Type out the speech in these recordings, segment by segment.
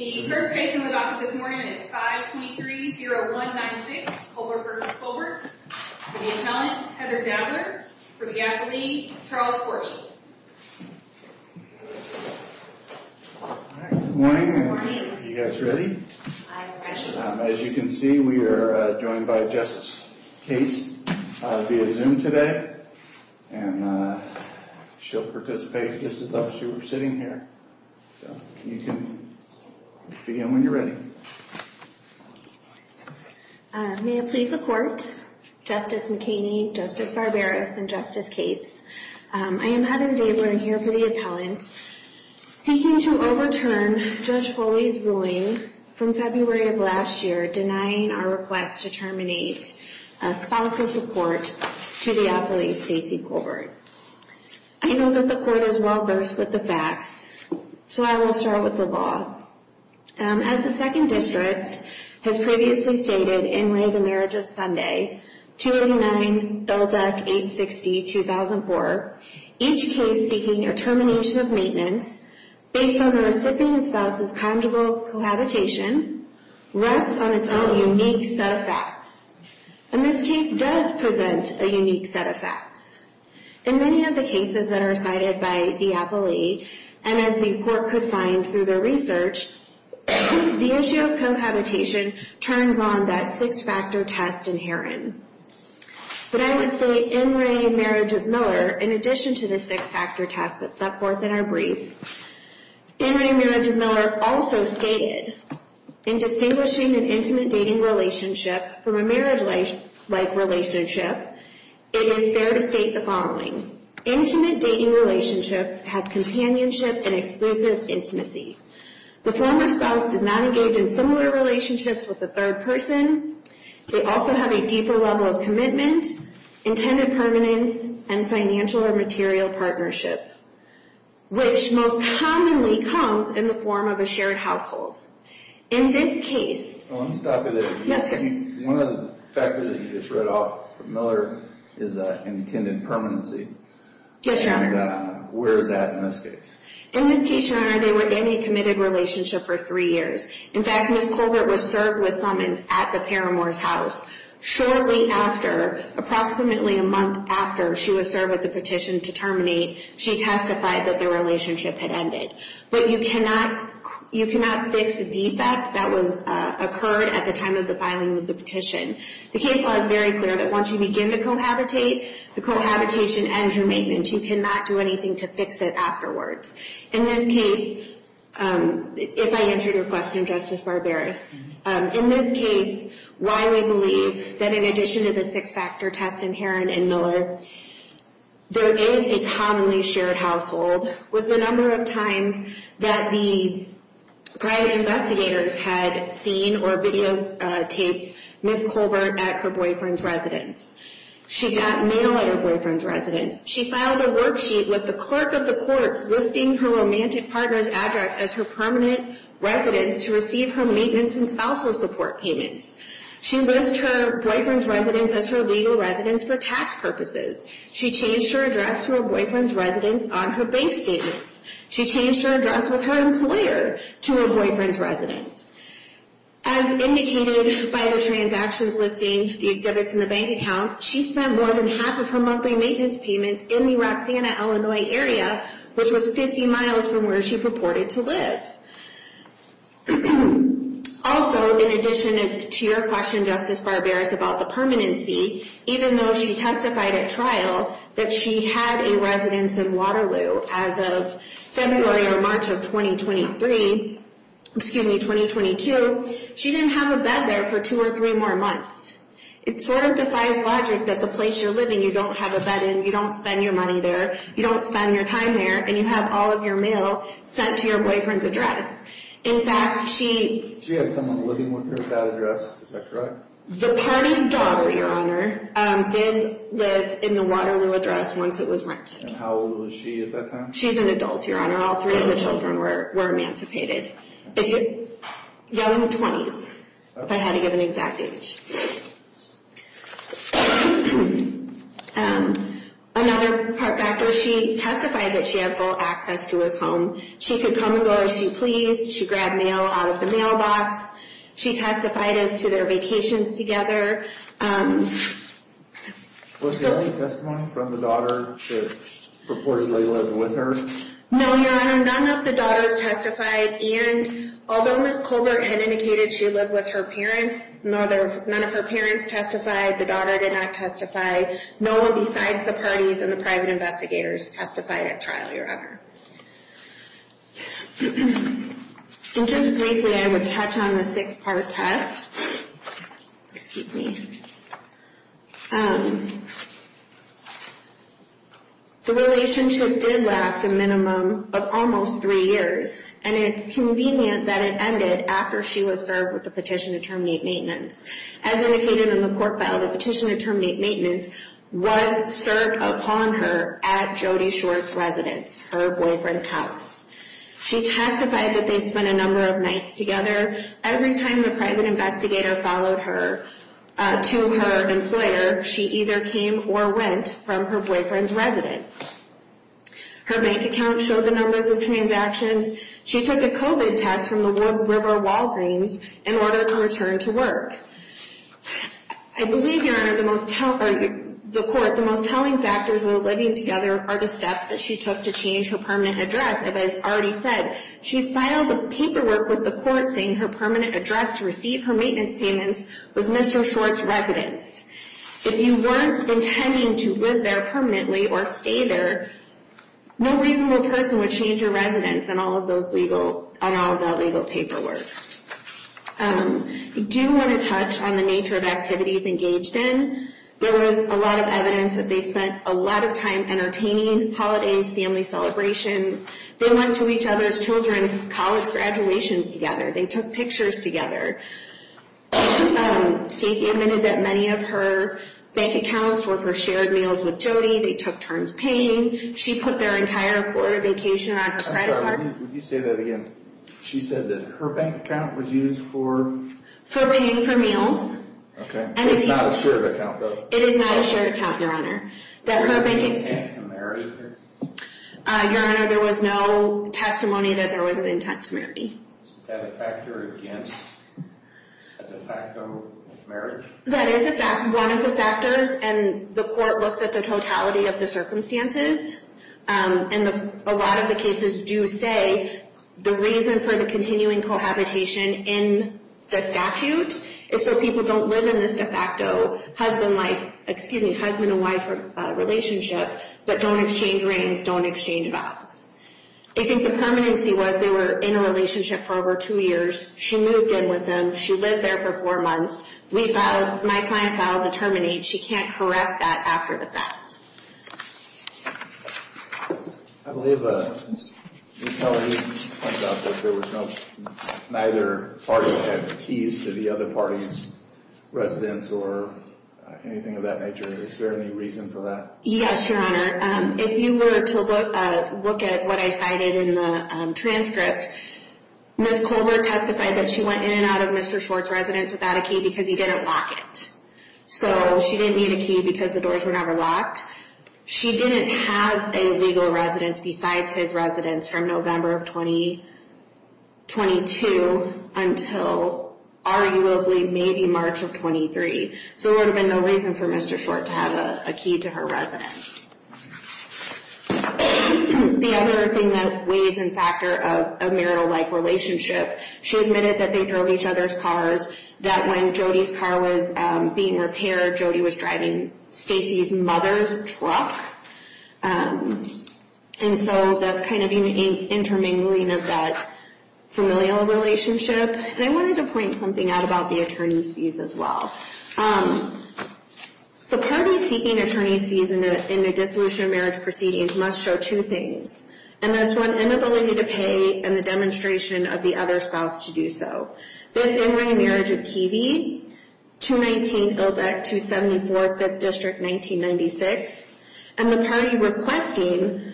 The first case in the docket this morning is 523-0196, Colbert v. Colbert, for the appellant, Heather Dabler, for the appellee, Charles Forby. Good morning, are you guys ready? I should be. As you can see, we are joined by Justice Cates via Zoom today, and she'll participate. This is us who are sitting here, so you can begin when you're ready. May it please the Court, Justice McKinney, Justice Barberis, and Justice Cates. I am Heather Dabler, and I'm here for the appellant, seeking to overturn Judge Foley's ruling from February of last year, denying our request to terminate a spousal support to the appellee, Stacey Colbert. I know that the Court is well-versed with the facts, so I will start with the law. As the Second District has previously stated in Ray of the Marriage of Sunday, 289-860-2004, each case seeking a termination of maintenance based on the recipient spouse's conjugal cohabitation rests on its own unique set of facts. And this case does present a unique set of facts. In many of the cases that are cited by the appellee, and as the Court could find through their research, the issue of cohabitation turns on that six-factor test inherent. But I would say in Ray of the Marriage of Miller, in addition to the six-factor test that's up forth in our brief, in Ray of the Marriage of Miller also stated, in distinguishing an intimate dating relationship from a marriage-like relationship, it is fair to state the following. Intimate dating relationships have companionship and exclusive intimacy. The former spouse does not engage in similar relationships with the third person. They also have a deeper level of commitment, intended permanence, and financial or material partnership, which most commonly comes in the form of a shared household. In this case... Let me stop you there. Yes, sir. One of the factors that you just read off from Miller is intended permanency. Yes, sir. And where is that in this case? In this case, Your Honor, they were in a committed relationship for three years. In fact, Ms. Colbert was served with summons at the Paramours' house. Shortly after, approximately a month after she was served with the petition to terminate, she testified that the relationship had ended. But you cannot fix a defect that occurred at the time of the filing of the petition. The case law is very clear that once you begin to cohabitate, the cohabitation ends your maintenance. You cannot do anything to fix it afterwards. In this case, if I answered your question, Justice Barberis, in this case, why we believe that in addition to the six-factor test inherent in Miller, there is a commonly shared household, was the number of times that the private investigators had seen or videotaped Ms. Colbert at her boyfriend's residence. She got mail at her boyfriend's residence. She filed a worksheet with the clerk of the courts listing her romantic partner's address as her permanent residence to receive her maintenance and spousal support payments. She listed her boyfriend's residence as her legal residence for tax purposes. She changed her address to her boyfriend's residence on her bank statements. She changed her address with her employer to her boyfriend's residence. As indicated by the transactions listing, the exhibits in the bank account, she spent more than half of her monthly maintenance payments in the Roxanna, Illinois area, which was 50 miles from where she purported to live. Also, in addition to your question, Justice Barberis, about the permanency, even though she testified at trial that she had a residence in Waterloo as of February or March of 2023, excuse me, 2022, she didn't have a bed there for two or three more months. It sort of defies logic that the place you're living, you don't have a bed in, you don't spend your money there, you don't spend your time there, and you have all of your mail sent to your boyfriend's address. In fact, she… She had someone living with her at that address. Is that correct? The partner's daughter, Your Honor, did live in the Waterloo address once it was rented. And how old was she at that time? She's an adult, Your Honor. All three of the children were emancipated. Younger than 20s, if I had to give an exact age. Another part factor, she testified that she had full access to his home. She could come and go as she pleased. She grabbed mail out of the mailbox. She testified as to their vacations together. Was there any testimony from the daughter that purportedly lived with her? No, Your Honor, none of the daughters testified. And although Ms. Colbert had indicated she lived with her parents, none of her parents testified, the daughter did not testify. No one besides the parties and the private investigators testified at trial, Your Honor. And just briefly, I would touch on the six-part test. Excuse me. The relationship did last a minimum of almost three years. And it's convenient that it ended after she was served with the petition to terminate maintenance. As indicated in the court file, the petition to terminate maintenance was served upon her at Jody Shore's residence, her boyfriend's house. She testified that they spent a number of nights together. Every time the private investigator followed her to her employer, she either came or went from her boyfriend's residence. Her bank account showed the numbers of transactions. She took a COVID test from the Wood River Walgreens in order to return to work. I believe, Your Honor, the most telling factors in the living together are the steps that she took to change her permanent address. As I've already said, she filed a paperwork with the court saying her permanent address to receive her maintenance payments was Mr. Shore's residence. If you weren't intending to live there permanently or stay there, no reasonable person would change your residence on all of that legal paperwork. I do want to touch on the nature of activities engaged in. There was a lot of evidence that they spent a lot of time entertaining holidays, family celebrations. They went to each other's children's college graduations together. They took pictures together. Stacy admitted that many of her bank accounts were for shared meals with Jodi. They took turns paying. She put their entire Florida vacation around her credit card. Would you say that again? She said that her bank account was used for? For paying for meals. Okay. It's not a shared account, though. It is not a shared account, Your Honor. Was there an intent to marry her? Your Honor, there was no testimony that there was an intent to marry. Is that a factor against a de facto marriage? That is one of the factors, and the court looks at the totality of the circumstances. And a lot of the cases do say the reason for the continuing cohabitation in the statute is so people don't live in this de facto husband and wife relationship, but don't exchange rings, don't exchange vows. I think the permanency was they were in a relationship for over two years. She moved in with them. She lived there for four months. We filed, my client filed a terminate. She can't correct that after the fact. I believe Ms. Keller, you pointed out that there was no, neither party had keys to the other party's residence or anything of that nature. Is there any reason for that? Yes, Your Honor. If you were to look at what I cited in the transcript, Ms. Colbert testified that she went in and out of Mr. Short's residence without a key because he didn't lock it. So she didn't need a key because the doors were never locked. She didn't have a legal residence besides his residence from November of 2022 until arguably maybe March of 23. So there would have been no reason for Mr. Short to have a key to her residence. The other thing that weighs in factor of a marital-like relationship, she admitted that they drove each other's cars, that when Jody's car was being repaired, Jody was driving Stacy's mother's truck. And so that's kind of intermingling of that familial relationship. And I wanted to point something out about the attorney's fees as well. The party seeking attorney's fees in a dissolution of marriage proceedings must show two things, and that's one, inability to pay and the demonstration of the other spouse to do so. That's in-ray marriage of Keevee, 219 Ilbeck, 274 5th District, 1996. And the party requesting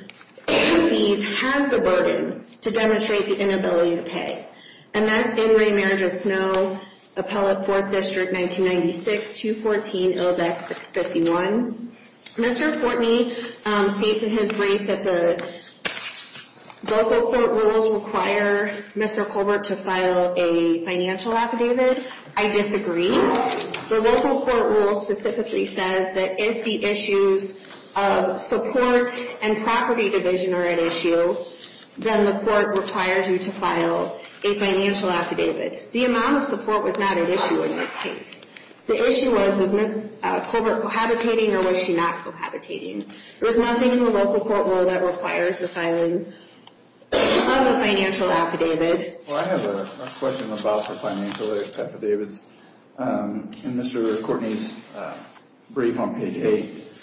fees has the burden to demonstrate the inability to pay, and that's in-ray marriage of Snow, Appellate, 4th District, 1996, 214 Ilbeck, 651. Mr. Courtney states in his brief that the local court rules require Mr. Colbert to file a financial affidavit. I disagree. The local court rule specifically says that if the issues of support and property division are at issue, then the court requires you to file a financial affidavit. The amount of support was not an issue in this case. The issue was, was Ms. Colbert cohabitating or was she not cohabitating? There was nothing in the local court rule that requires the filing of a financial affidavit. Well, I have a question about the financial affidavits. In Mr. Courtney's brief on page 8,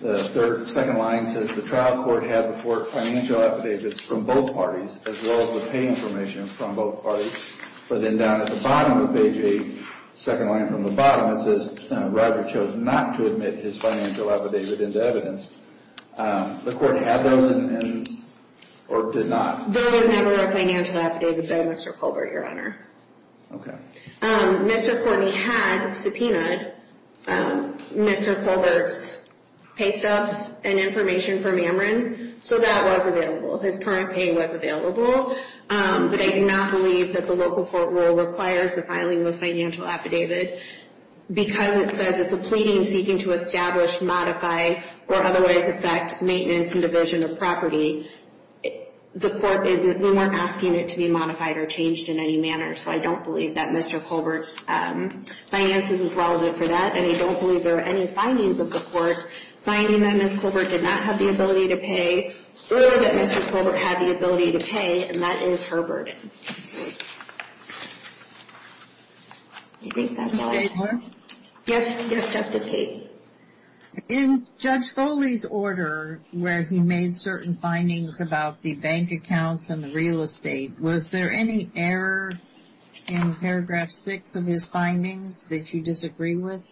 the second line says the trial court had the financial affidavits from both parties as well as the pay information from both parties. But then down at the bottom of page 8, second line from the bottom, it says Roger chose not to admit his financial affidavit into evidence. The court had those or did not? There was never a financial affidavit, Mr. Colbert, Your Honor. Okay. Mr. Courtney had subpoenaed Mr. Colbert's pay stubs and information from Ameren, so that was available. His current pay was available. But I do not believe that the local court rule requires the filing of a financial affidavit because it says it's a pleading seeking to establish, modify, or otherwise affect maintenance and division of property. The court is not asking it to be modified or changed in any manner, so I don't believe that Mr. Colbert's finances is relevant for that, and I don't believe there are any findings of the court finding that Ms. Colbert did not have the ability to pay or that Mr. Colbert had the ability to pay, and that is her burden. I think that's all. Ms. Stadler? Yes, Justice Cates. In Judge Foley's order where he made certain findings about the bank accounts and the real estate, was there any error in paragraph 6 of his findings that you disagree with?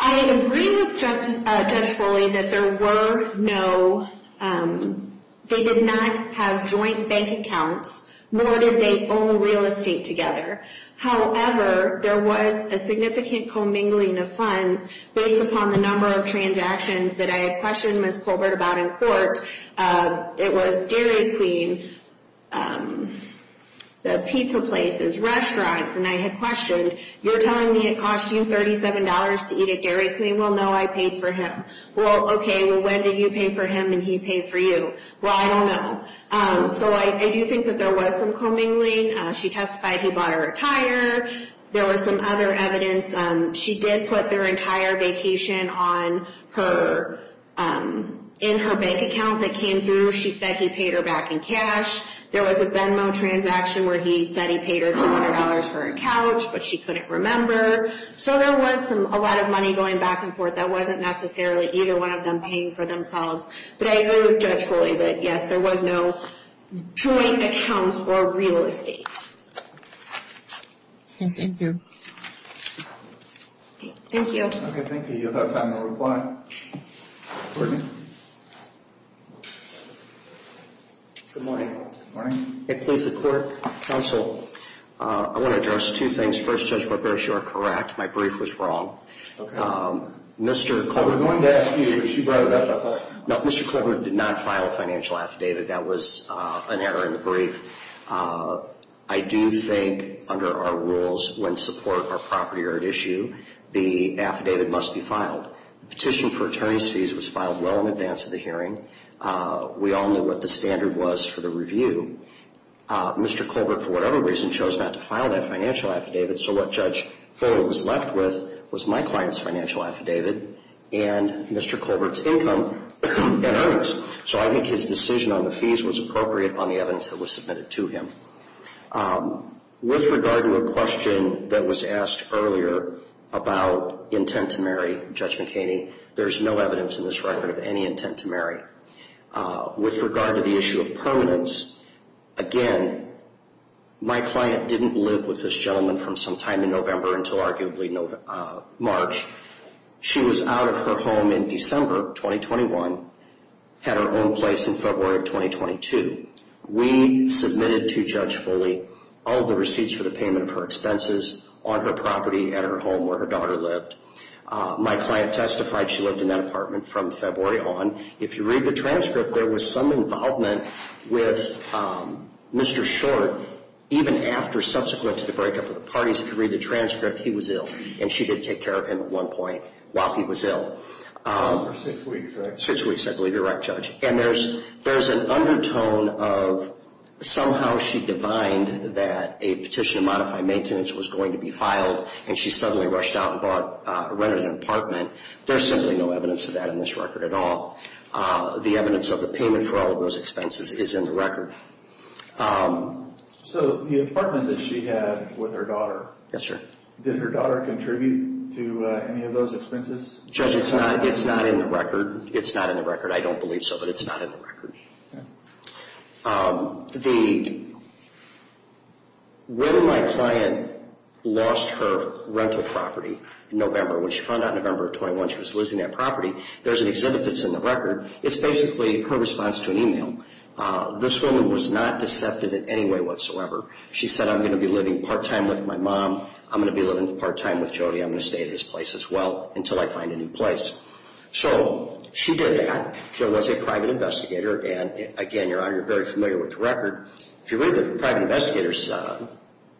I agree with Judge Foley that there were no, they did not have joint bank accounts, nor did they own real estate together. However, there was a significant commingling of funds based upon the number of transactions that I had questioned Ms. Colbert about in court. It was Dairy Queen, the pizza places, restaurants, and I had questioned, you're telling me it cost you $37 to eat at Dairy Queen? Well, no, I paid for him. Well, okay, well, when did you pay for him and he paid for you? Well, I don't know. So I do think that there was some commingling. She testified he bought her a tire. There was some other evidence. She did put their entire vacation in her bank account that came through. She said he paid her back in cash. There was a Venmo transaction where he said he paid her $200 for a couch, but she couldn't remember. So there was a lot of money going back and forth. That wasn't necessarily either one of them paying for themselves. But I agree with Judge Foley that, yes, there was no joint accounts or real estate. Okay, thank you. Thank you. Okay, thank you. You'll have time to reply. Good morning. Good morning. Good morning. Okay, please report, counsel. I want to address two things. First, Judge Barbera, you are correct. My brief was wrong. Okay. Mr. Colbert. No, Mr. Colbert did not file a financial affidavit. That was an error in the brief. I do think under our rules when support or property are at issue, the affidavit must be filed. The petition for attorney's fees was filed well in advance of the hearing. We all knew what the standard was for the review. Mr. Colbert, for whatever reason, chose not to file that financial affidavit. So what Judge Foley was left with was my client's financial affidavit and Mr. Colbert's income and earnings. So I think his decision on the fees was appropriate on the evidence that was submitted to him. With regard to a question that was asked earlier about intent to marry Judge McHaney, there is no evidence in this record of any intent to marry. With regard to the issue of permanence, again, my client didn't live with this gentleman from sometime in November until arguably March. She was out of her home in December of 2021, had her own place in February of 2022. We submitted to Judge Foley all the receipts for the payment of her expenses on her property at her home where her daughter lived. My client testified she lived in that apartment from February on. If you read the transcript, there was some involvement with Mr. Short even after subsequent to the breakup of the parties. If you read the transcript, he was ill, and she did take care of him at one point while he was ill. It was for six weeks, right? Six weeks, I believe you're right, Judge. And there's an undertone of somehow she divined that a petition to modify maintenance was going to be filed, and she suddenly rushed out and rented an apartment. There's simply no evidence of that in this record at all. The evidence of the payment for all of those expenses is in the record. So the apartment that she had with her daughter, did her daughter contribute to any of those expenses? Judge, it's not in the record. It's not in the record. I don't believe so, but it's not in the record. When my client lost her rental property in November, when she found out in November of 21 she was losing that property, there's an exhibit that's in the record. It's basically her response to an email. This woman was not deceptive in any way whatsoever. She said, I'm going to be living part-time with my mom. I'm going to be living part-time with Jody. I'm going to stay at his place as well until I find a new place. So she did that. There was a private investigator, and again, Your Honor, you're very familiar with the record. If you read the private investigator's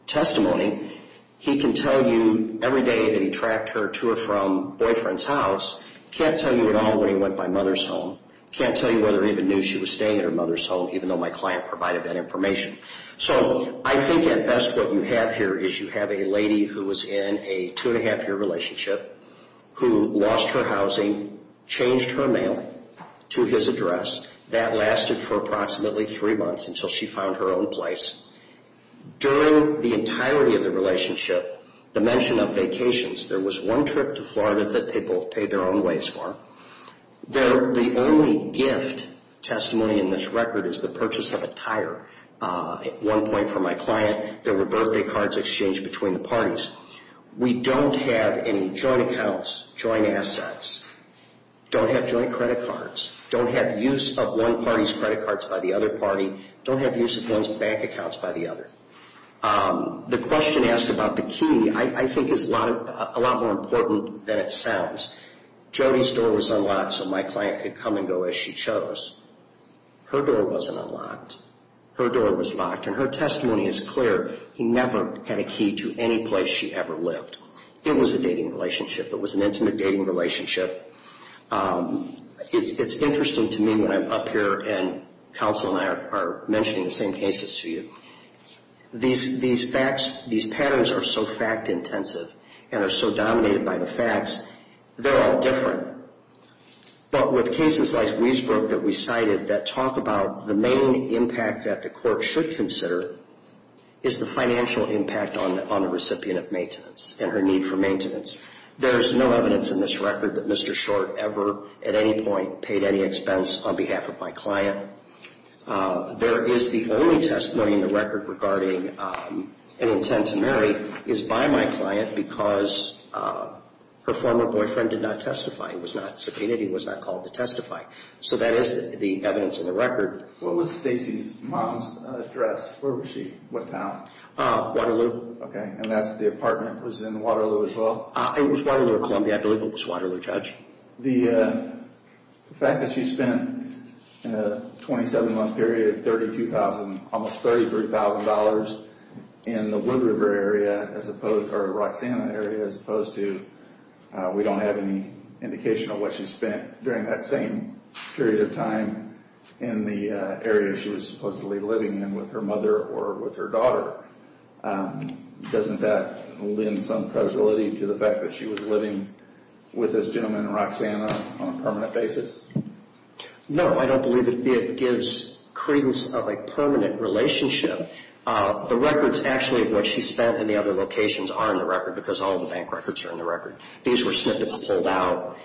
testimony, he can tell you every day that he tracked her to or from boyfriend's house. He can't tell you at all when he went to my mother's home. He can't tell you whether he even knew she was staying at her mother's home, even though my client provided that information. So I think at best what you have here is you have a lady who was in a two-and-a-half-year relationship, who lost her housing, changed her mail to his address. That lasted for approximately three months until she found her own place. During the entirety of the relationship, the mention of vacations, there was one trip to Florida that they both paid their own ways for. The only gift testimony in this record is the purchase of a tire. At one point for my client, there were birthday cards exchanged between the parties. We don't have any joint accounts, joint assets. Don't have joint credit cards. Don't have use of one party's credit cards by the other party. Don't have use of one's bank accounts by the other. The question asked about the key I think is a lot more important than it sounds. Jodi's door was unlocked so my client could come and go as she chose. Her door wasn't unlocked. Her door was locked, and her testimony is clear. He never had a key to any place she ever lived. It was a dating relationship. It was an intimate dating relationship. It's interesting to me when I'm up here and counsel and I are mentioning the same cases to you. These facts, these patterns are so fact-intensive and are so dominated by the facts, they're all different. But with cases like Weisbrook that we cited that talk about the main impact that the court should consider is the financial impact on the recipient of maintenance and her need for maintenance. There's no evidence in this record that Mr. Short ever at any point paid any expense on behalf of my client. There is the only testimony in the record regarding an intent to marry is by my client because her former boyfriend did not testify. He was not subpoenaed. So that is the evidence in the record. What was Stacy's mom's address? Where was she? What town? Waterloo. Okay, and that's the apartment was in Waterloo as well? It was Waterloo, Columbia. I believe it was Waterloo, Judge. The fact that she spent in a 27-month period $32,000, almost $33,000 in the Wood River area as opposed to, or Roxanna area as opposed to, we don't have any indication of what she spent during that same period of time in the area she was supposedly living in with her mother or with her daughter. Doesn't that lend some credibility to the fact that she was living with this gentleman, Roxanna, on a permanent basis? No, I don't believe it gives credence of a permanent relationship. The records actually of what she spent in the other locations are in the record because all the bank records are in the record. These were snippets pulled out.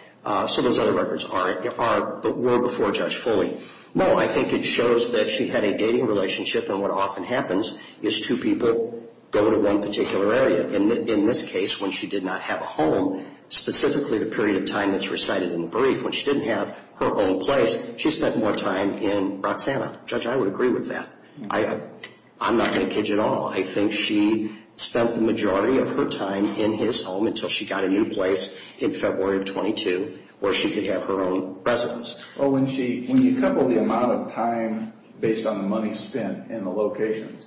So those other records were before Judge Foley. No, I think it shows that she had a dating relationship, and what often happens is two people go to one particular area. In this case, when she did not have a home, specifically the period of time that's recited in the brief, when she didn't have her own place, she spent more time in Roxanna. Judge, I would agree with that. I'm not going to kid you at all. I think she spent the majority of her time in his home until she got a new place in February of 22 where she could have her own residence. When you couple the amount of time based on the money spent in the locations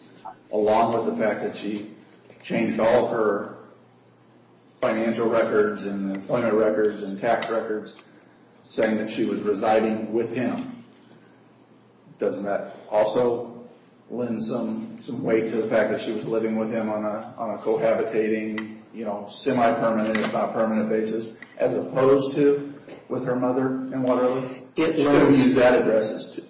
along with the fact that she changed all of her financial records and employment records and tax records saying that she was residing with him, doesn't that also lend some weight to the fact that she was living with him on a cohabitating, semi-permanent if not permanent basis, as opposed to with her mother and whatever? She couldn't use that address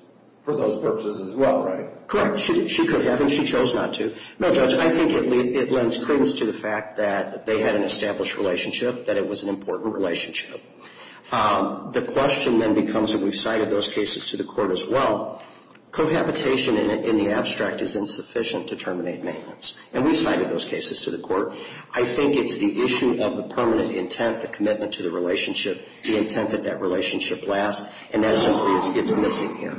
for those purposes as well, right? Correct. She could have, and she chose not to. No, Judge, I think it lends credence to the fact that they had an established relationship, that it was an important relationship. The question then becomes, and we've cited those cases to the court as well, cohabitation in the abstract is insufficient to terminate maintenance, and we've cited those cases to the court. I think it's the issue of the permanent intent, the commitment to the relationship, the intent that that relationship lasts, and that simply is missing here.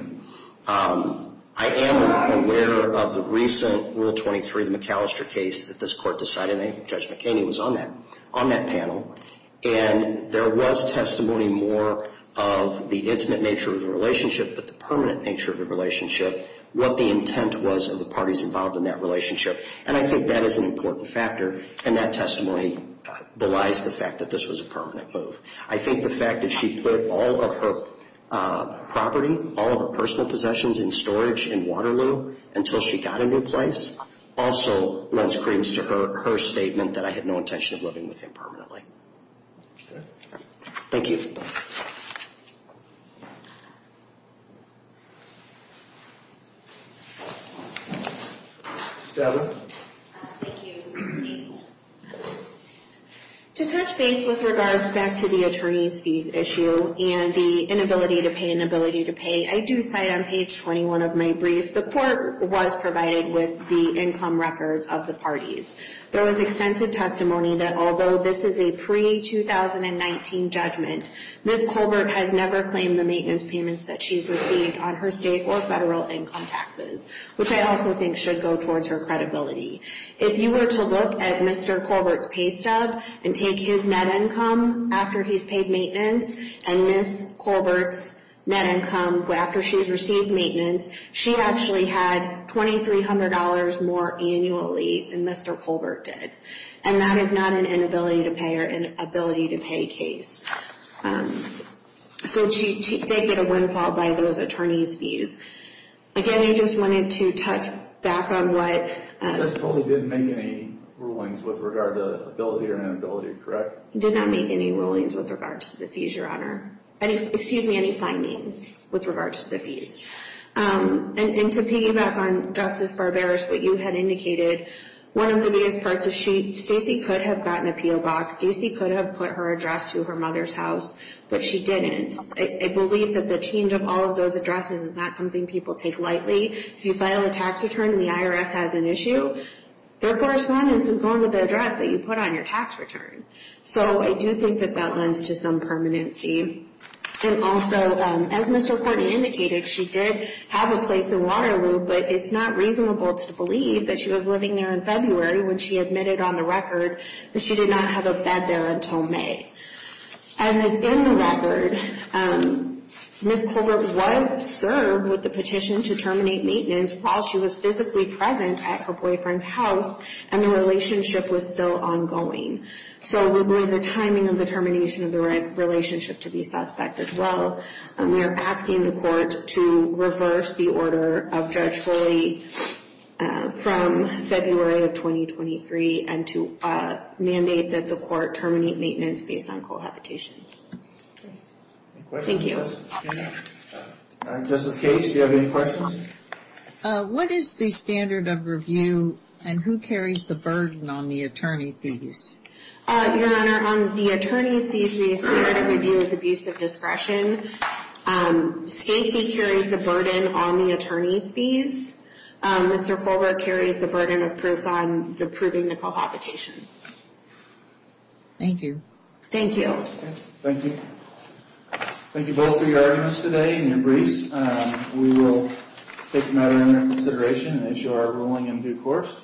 I am aware of the recent Rule 23, the McAllister case, that this court decided, and Judge McKinney was on that panel, and there was testimony more of the intimate nature of the relationship but the permanent nature of the relationship, what the intent was of the parties involved in that relationship, and I think that is an important factor, and that testimony belies the fact that this was a permanent move. I think the fact that she put all of her property, all of her personal possessions in storage in Waterloo until she got a new place, also lends credence to her statement that I had no intention of living with him permanently. Thank you. To touch base with regards back to the attorney's fees issue and the inability to pay, inability to pay, I do cite on page 21 of my brief, the court was provided with the income records of the parties. There was extensive testimony that although this is a pre-2019 judgment, Ms. Colbert has never claimed the maintenance payments that she's received on her state or federal income taxes, which I also think should go towards her credibility. If you were to look at Mr. Colbert's pay stub and take his net income after he's paid maintenance and Ms. Colbert's net income after she's received maintenance, she actually had $2,300 more annually than Mr. Colbert did. And that is not an inability to pay or inability to pay case. So she did get a windfall by those attorney's fees. Again, I just wanted to touch back on what... Ms. Colbert didn't make any rulings with regard to ability or inability, correct? Did not make any rulings with regards to the fees, Your Honor. Excuse me, any findings with regards to the fees. And to piggyback on Justice Barbera's what you had indicated, one of the biggest parts is Stacy could have gotten a P.O. box. Stacy could have put her address to her mother's house, but she didn't. I believe that the change of all of those addresses is not something people take lightly. If you file a tax return and the IRS has an issue, their correspondence is going to the address that you put on your tax return. So I do think that that lends to some permanency. And also, as Mr. Courtney indicated, she did have a place in Waterloo, but it's not reasonable to believe that she was living there in February when she admitted on the record that she did not have a bed there until May. As is in the record, Ms. Colbert was served with the petition to terminate maintenance while she was physically present at her boyfriend's house, and the relationship was still ongoing. So we believe the timing of the termination of the relationship to be suspect as well. We are asking the court to reverse the order of Judge Foley from February of 2023 and to mandate that the court terminate maintenance based on cohabitation. Thank you. Justice Case, do you have any questions? What is the standard of review and who carries the burden on the attorney fees? Your Honor, on the attorney's fees, the standard of review is abuse of discretion. Stacy carries the burden on the attorney's fees. Mr. Colbert carries the burden of proof on approving the cohabitation. Thank you. Thank you. Thank you. Thank you both for your arguments today and your briefs. We will take the matter into consideration as you are rolling in due course.